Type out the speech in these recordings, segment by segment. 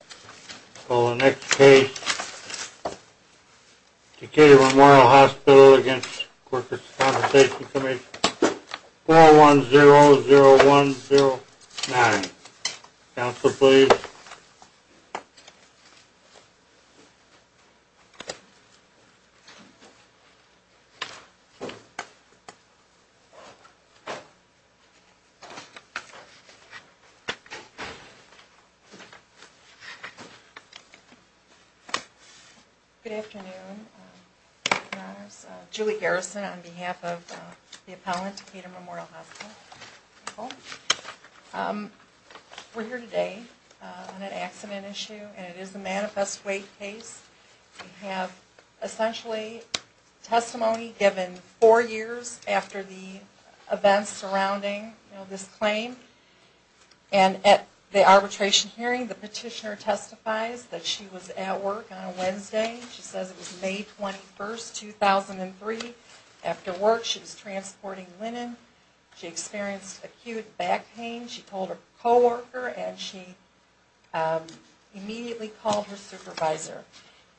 I call the next case, Decatur Memorial Hospital v. The Workers' Compensation Commission, 4100109. Counselor, please. Good afternoon, Your Honors. Julie Garrison on behalf of the appellant, Decatur Memorial Hospital. We're here today on an accident issue, and it is the Manifest Weight case. We have essentially testimony given four years after the events surrounding this claim. And at the arbitration hearing, the petitioner testifies that she was at work on a Wednesday. She says it was May 21, 2003. After work, she was transporting linen. She experienced acute back pain. She called her co-worker and she immediately called her supervisor.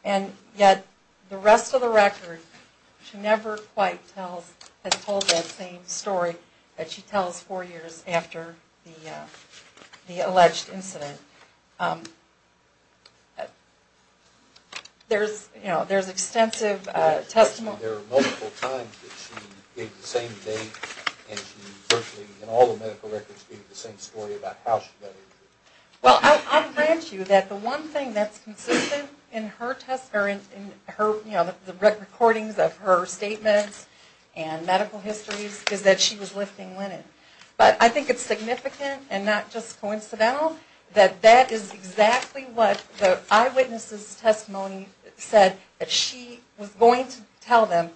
And yet, the rest of the record, she never quite tells, has told that same story that she tells four years after the alleged incident. There's, you know, there's extensive testimony. There are multiple times that she gave the same date, and she virtually, in all the medical records, gave the same story about how she got injured. Well, I'll grant you that the one thing that's consistent in her test, or in her, you know, the recordings of her statements and medical histories, is that she was lifting linen. But I think it's significant and not just coincidental that that is exactly what the eyewitness's testimony said that she was going to tell them,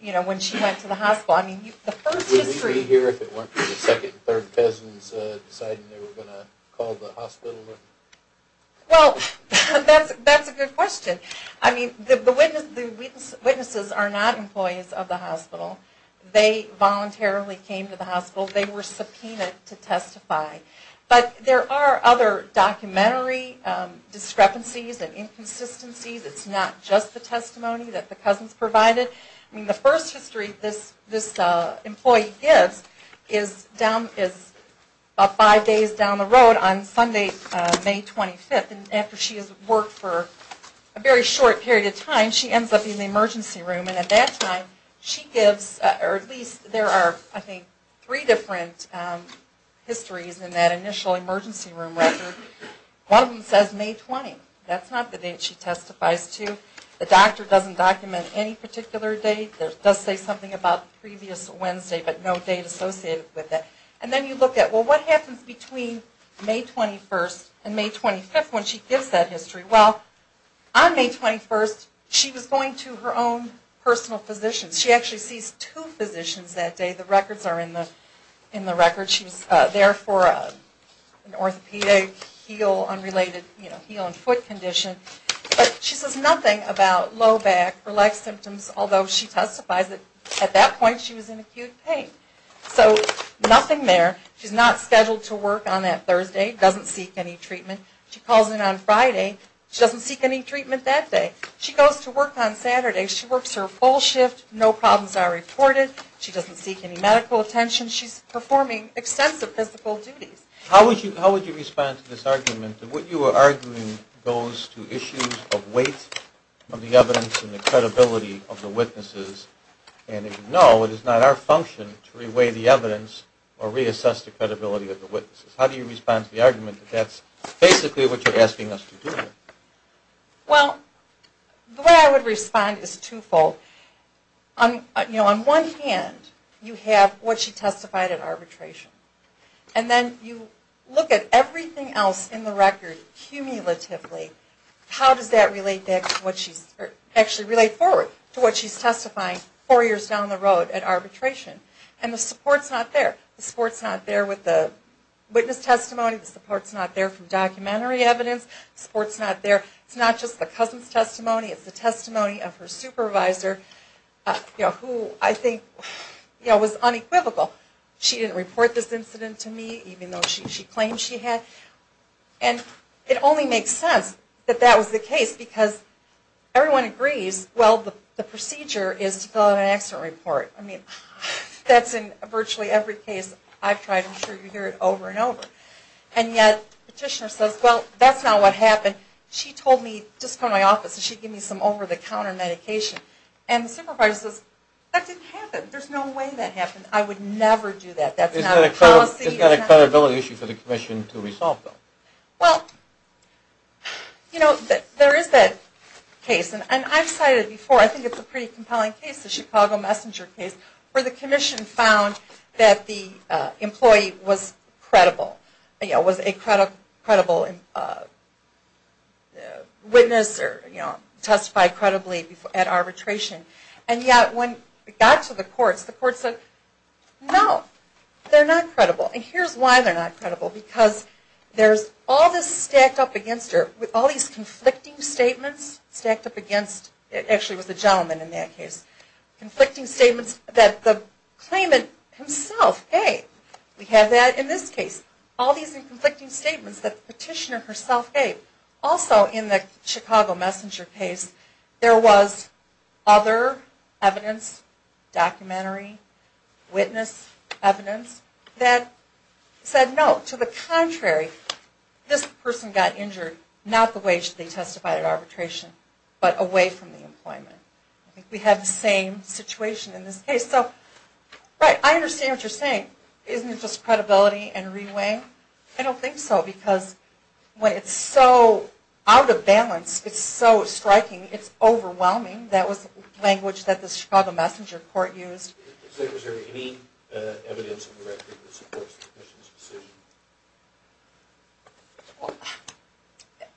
you know, when she went to the hospital. Would we be here if it weren't for the second and third cousins deciding they were going to call the hospital? Well, that's a good question. I mean, the witnesses are not employees of the hospital. They voluntarily came to the hospital. They were subpoenaed to testify. But there are other documentary discrepancies and inconsistencies. It's not just the testimony that the cousins provided. I mean, the first history this employee gives is about five days down the road on Sunday, May 25th. And after she has worked for a very short period of time, she ends up in the emergency room. And at that time, she gives, or at least there are, I think, three different histories in that initial emergency room record. One of them says May 20th. That's not the date she testifies to. The doctor doesn't document any particular date. It does say something about the previous Wednesday, but no date associated with it. And then you look at, well, what happens between May 21st and May 25th when she gives that history? Well, on May 21st, she was going to her own personal physician. She actually sees two physicians that day. The records are in the record. She was there for an orthopedic heel, unrelated heel and foot condition. But she says nothing about low back or leg symptoms, although she testifies that at that point she was in acute pain. So nothing there. She's not scheduled to work on that Thursday. Doesn't seek any treatment. She calls in on Friday. She doesn't seek any treatment that day. She goes to work on Saturday. She works her full shift. No problems are reported. She doesn't seek any medical attention. She's performing extensive physical duties. How would you respond to this argument that what you are arguing goes to issues of weight of the evidence and the credibility of the witnesses? And if no, it is not our function to reweigh the evidence or reassess the credibility of the witnesses. How do you respond to the argument that that's basically what you're asking us to do? Well, the way I would respond is twofold. On one hand, you have what she testified at arbitration. And then you look at everything else in the record cumulatively. How does that actually relate forward to what she's testifying four years down the road at arbitration? And the support's not there. The support's not there with the witness testimony. The support's not there from documentary evidence. The support's not there. It's not just the cousin's testimony. It's the testimony of her supervisor, who I think was unequivocal. She didn't report this incident to me, even though she claimed she had. And it only makes sense that that was the case because everyone agrees, well, the procedure is to fill out an accident report. I mean, that's in virtually every case I've tried. I'm sure you hear it over and over. And yet the petitioner says, well, that's not what happened. She told me just from my office that she'd give me some over-the-counter medication. And the supervisor says, that didn't happen. There's no way that happened. I would never do that. That's not a policy. Isn't that a credibility issue for the commission to resolve, though? Well, you know, there is that case. And I've cited it before. I think it's a pretty compelling case, the Chicago Messenger case, where the commission found that the employee was credible. You know, was a credible witness or testified credibly at arbitration. And yet when it got to the courts, the courts said, no, they're not credible. And here's why they're not credible. Because there's all this stacked up against her. All these conflicting statements stacked up against her. It actually was the gentleman in that case. Conflicting statements that the claimant himself gave. We have that in this case. All these conflicting statements that the petitioner herself gave. Also in the Chicago Messenger case, there was other evidence, documentary, witness evidence, that said, no, to the contrary, this person got injured not the way they testified at arbitration, but away from the employment. We have the same situation in this case. So, right, I understand what you're saying. Isn't it just credibility and re-weighing? I don't think so, because when it's so out of balance, it's so striking, it's overwhelming. That was language that the Chicago Messenger court used. Is there any evidence in the record that supports the petitioner's decision?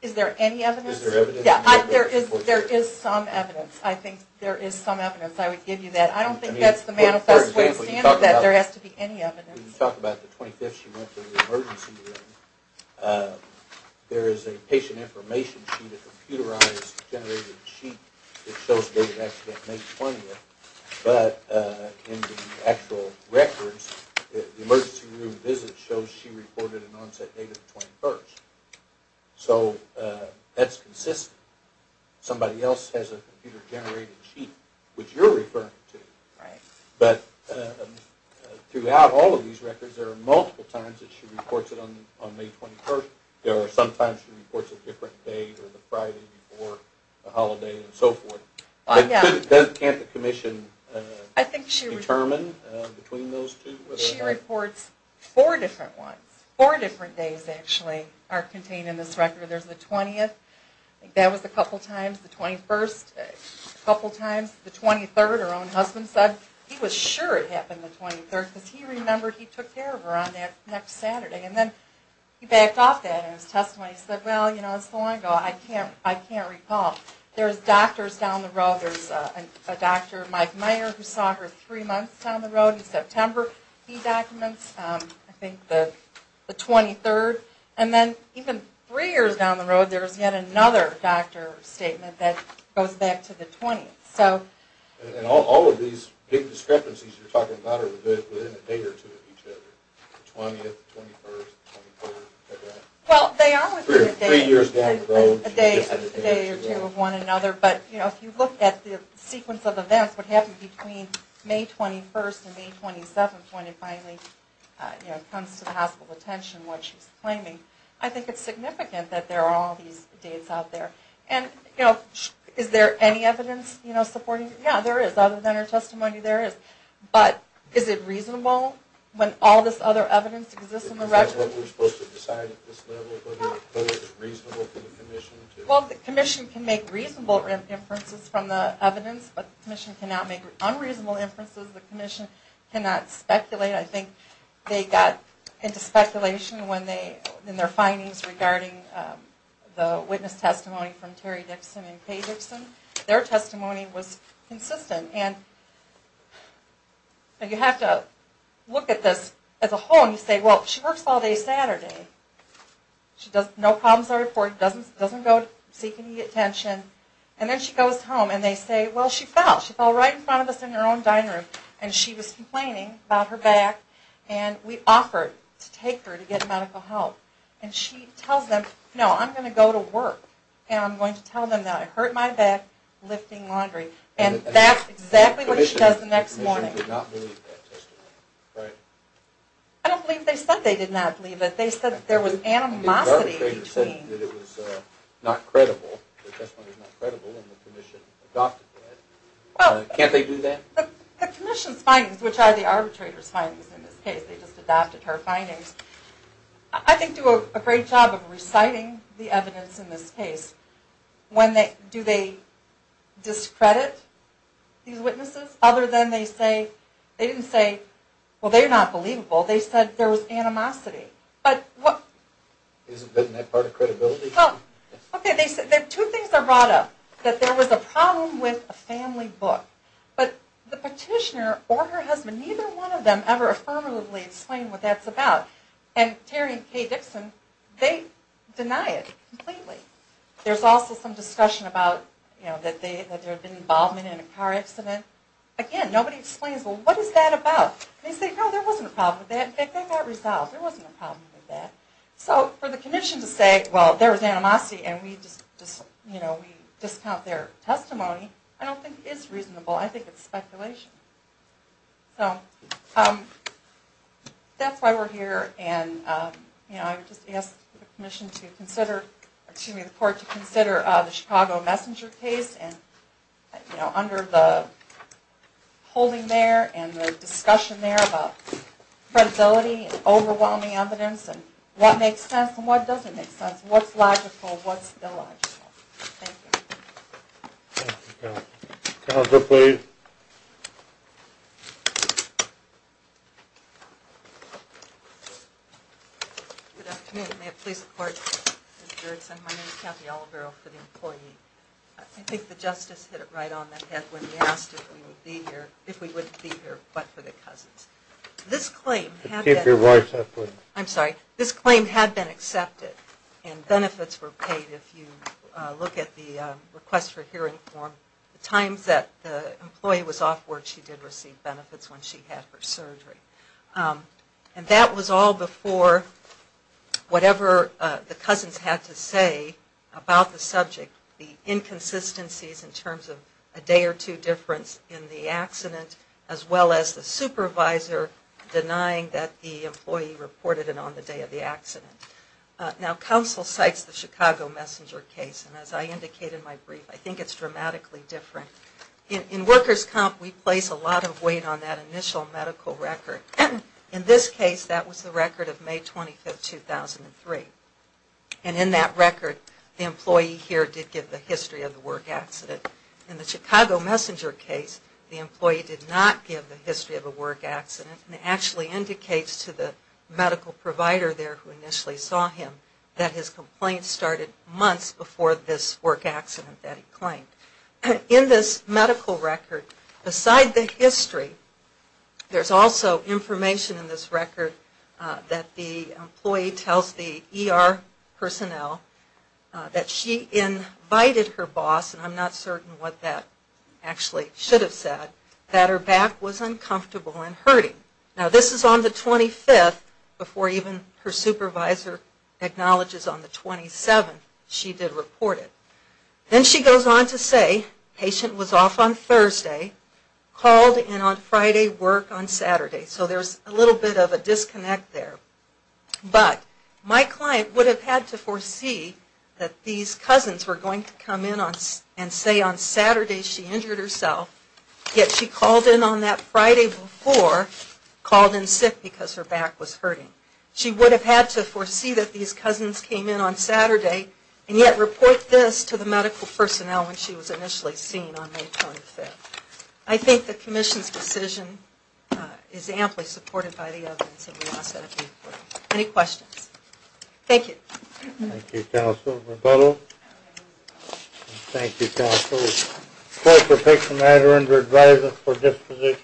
Is there any evidence? Is there evidence? There is some evidence. I think there is some evidence, I would give you that. I don't think that's the manifest way of saying that there has to be any evidence. You talk about the 25th she went to the emergency room. There is a patient information sheet, a computerized, generated sheet, that shows the date of accident, May 20th. But in the actual records, the emergency room visit shows she reported an onset date of the 21st. So that's consistent. Somebody else has a computer generated sheet, which you're referring to. But throughout all of these records, there are multiple times that she reports it on May 21st. There are some times she reports a different date, or the Friday before a holiday, and so forth. Can't the commission determine between those two? She reports four different ones. Four different days, actually, are contained in this record. There's the 20th. That was a couple times. The 21st, a couple times. The 23rd, her own husband said he was sure it happened the 23rd, because he remembered he took care of her on that next Saturday. And then he backed off that in his testimony. He said, well, you know, it was so long ago, I can't recall. There's doctors down the road. There's a doctor, Mike Mayer, who saw her three months down the road in September. He documents, I think, the 23rd. And then even three years down the road, there's yet another doctor statement that goes back to the 20th. And all of these big discrepancies you're talking about are within a day or two of each other. The 20th, the 21st, the 24th. Well, they are within a day or two. But, you know, if you look at the sequence of events, what happened between May 21st and May 27th, when it finally comes to the hospital's attention, what she's claiming, I think it's significant that there are all these dates out there. And, you know, is there any evidence supporting it? Yeah, there is. Other than her testimony, there is. But is it reasonable when all this other evidence exists in the record? Is that what we're supposed to decide at this level? No. But is it reasonable for the commission to... Well, the commission can make reasonable inferences from the evidence, but the commission cannot make unreasonable inferences. The commission cannot speculate. I think they got into speculation in their findings regarding the witness testimony from Terry Dixon and Kay Dixon. Their testimony was consistent. And you have to look at this as a whole and say, well, she works all day Saturday. No problems are reported. Doesn't go seek any attention. And then she goes home, and they say, well, she fell. She fell right in front of us in her own dining room. And she was complaining about her back, and we offered to take her to get medical help. And she tells them, no, I'm going to go to work, and I'm going to tell them that I hurt my back lifting laundry. And that's exactly what she does the next morning. The commission did not believe that testimony, right? I don't believe they said they did not believe it. They said there was animosity between... The arbitrator said that it was not credible, the testimony was not credible, and the commission adopted that. Can't they do that? The commission's findings, which are the arbitrator's findings in this case, they just adopted her findings, I think do a great job of reciting the evidence in this case. Do they discredit these witnesses? Other than they didn't say, well, they're not believable. They said there was animosity. Isn't that part of credibility? Okay, two things are brought up. That there was a problem with a family book. But the petitioner or her husband, neither one of them ever affirmatively explained what that's about. And Terry and Kay Dixon, they deny it completely. There's also some discussion about that there had been involvement in a car accident. Again, nobody explains, well, what is that about? They say, no, there wasn't a problem with that. In fact, that got resolved. There wasn't a problem with that. So for the commission to say, well, there was animosity, and we discount their testimony, I don't think is reasonable. I think it's speculation. So that's why we're here. And I just ask the commission to consider, excuse me, the court to consider the Chicago Messenger case. And under the holding there and the discussion there about credibility and overwhelming evidence and what makes sense and what doesn't make sense, what's logical, what's illogical. Thank you. Counselor, please. Good afternoon. May it please the court. My name is Kathy Olivero for the employee. I think the justice hit it right on the head when we asked if we would be here, but for the cousins. This claim had been accepted, and benefits were paid if you look at the request for hearing form. The times that the employee was off work, she did receive benefits when she had her surgery. And that was all before whatever the cousins had to say about the subject, the inconsistencies in terms of a day or two difference in the accident, as well as the supervisor denying that the employee reported it on the day of the accident. Now, counsel cites the Chicago Messenger case, and as I indicate in my brief, I think it's dramatically different. In workers' comp, we place a lot of weight on that initial medical record. In this case, that was the record of May 25, 2003. And in that record, the employee here did give the history of the work accident. In the Chicago Messenger case, the employee did not give the history of a work accident and actually indicates to the medical provider there who initially saw him that his complaint started months before this work accident that he claimed. In this medical record, beside the history, there's also information in this record that the employee tells the ER personnel that she invited her boss, and I'm not certain what that actually should have said, that her back was uncomfortable and hurting. Now, this is on the 25th, before even her supervisor acknowledges on the 27th she did report it. Then she goes on to say, patient was off on Thursday, called in on Friday, work on Saturday. So there's a little bit of a disconnect there. But my client would have had to foresee that these cousins were going to come in and say on Saturday she injured herself, yet she called in on that Friday before, called in sick because her back was hurting. She would have had to foresee that these cousins came in on Saturday, and yet report this to the medical personnel when she was initially seen on May 25th. I think the Commission's decision is amply supported by the evidence. Any questions? Thank you. Thank you, counsel. Rebuttal. Thank you, counsel. Clerk will take the matter under advisement for disposition.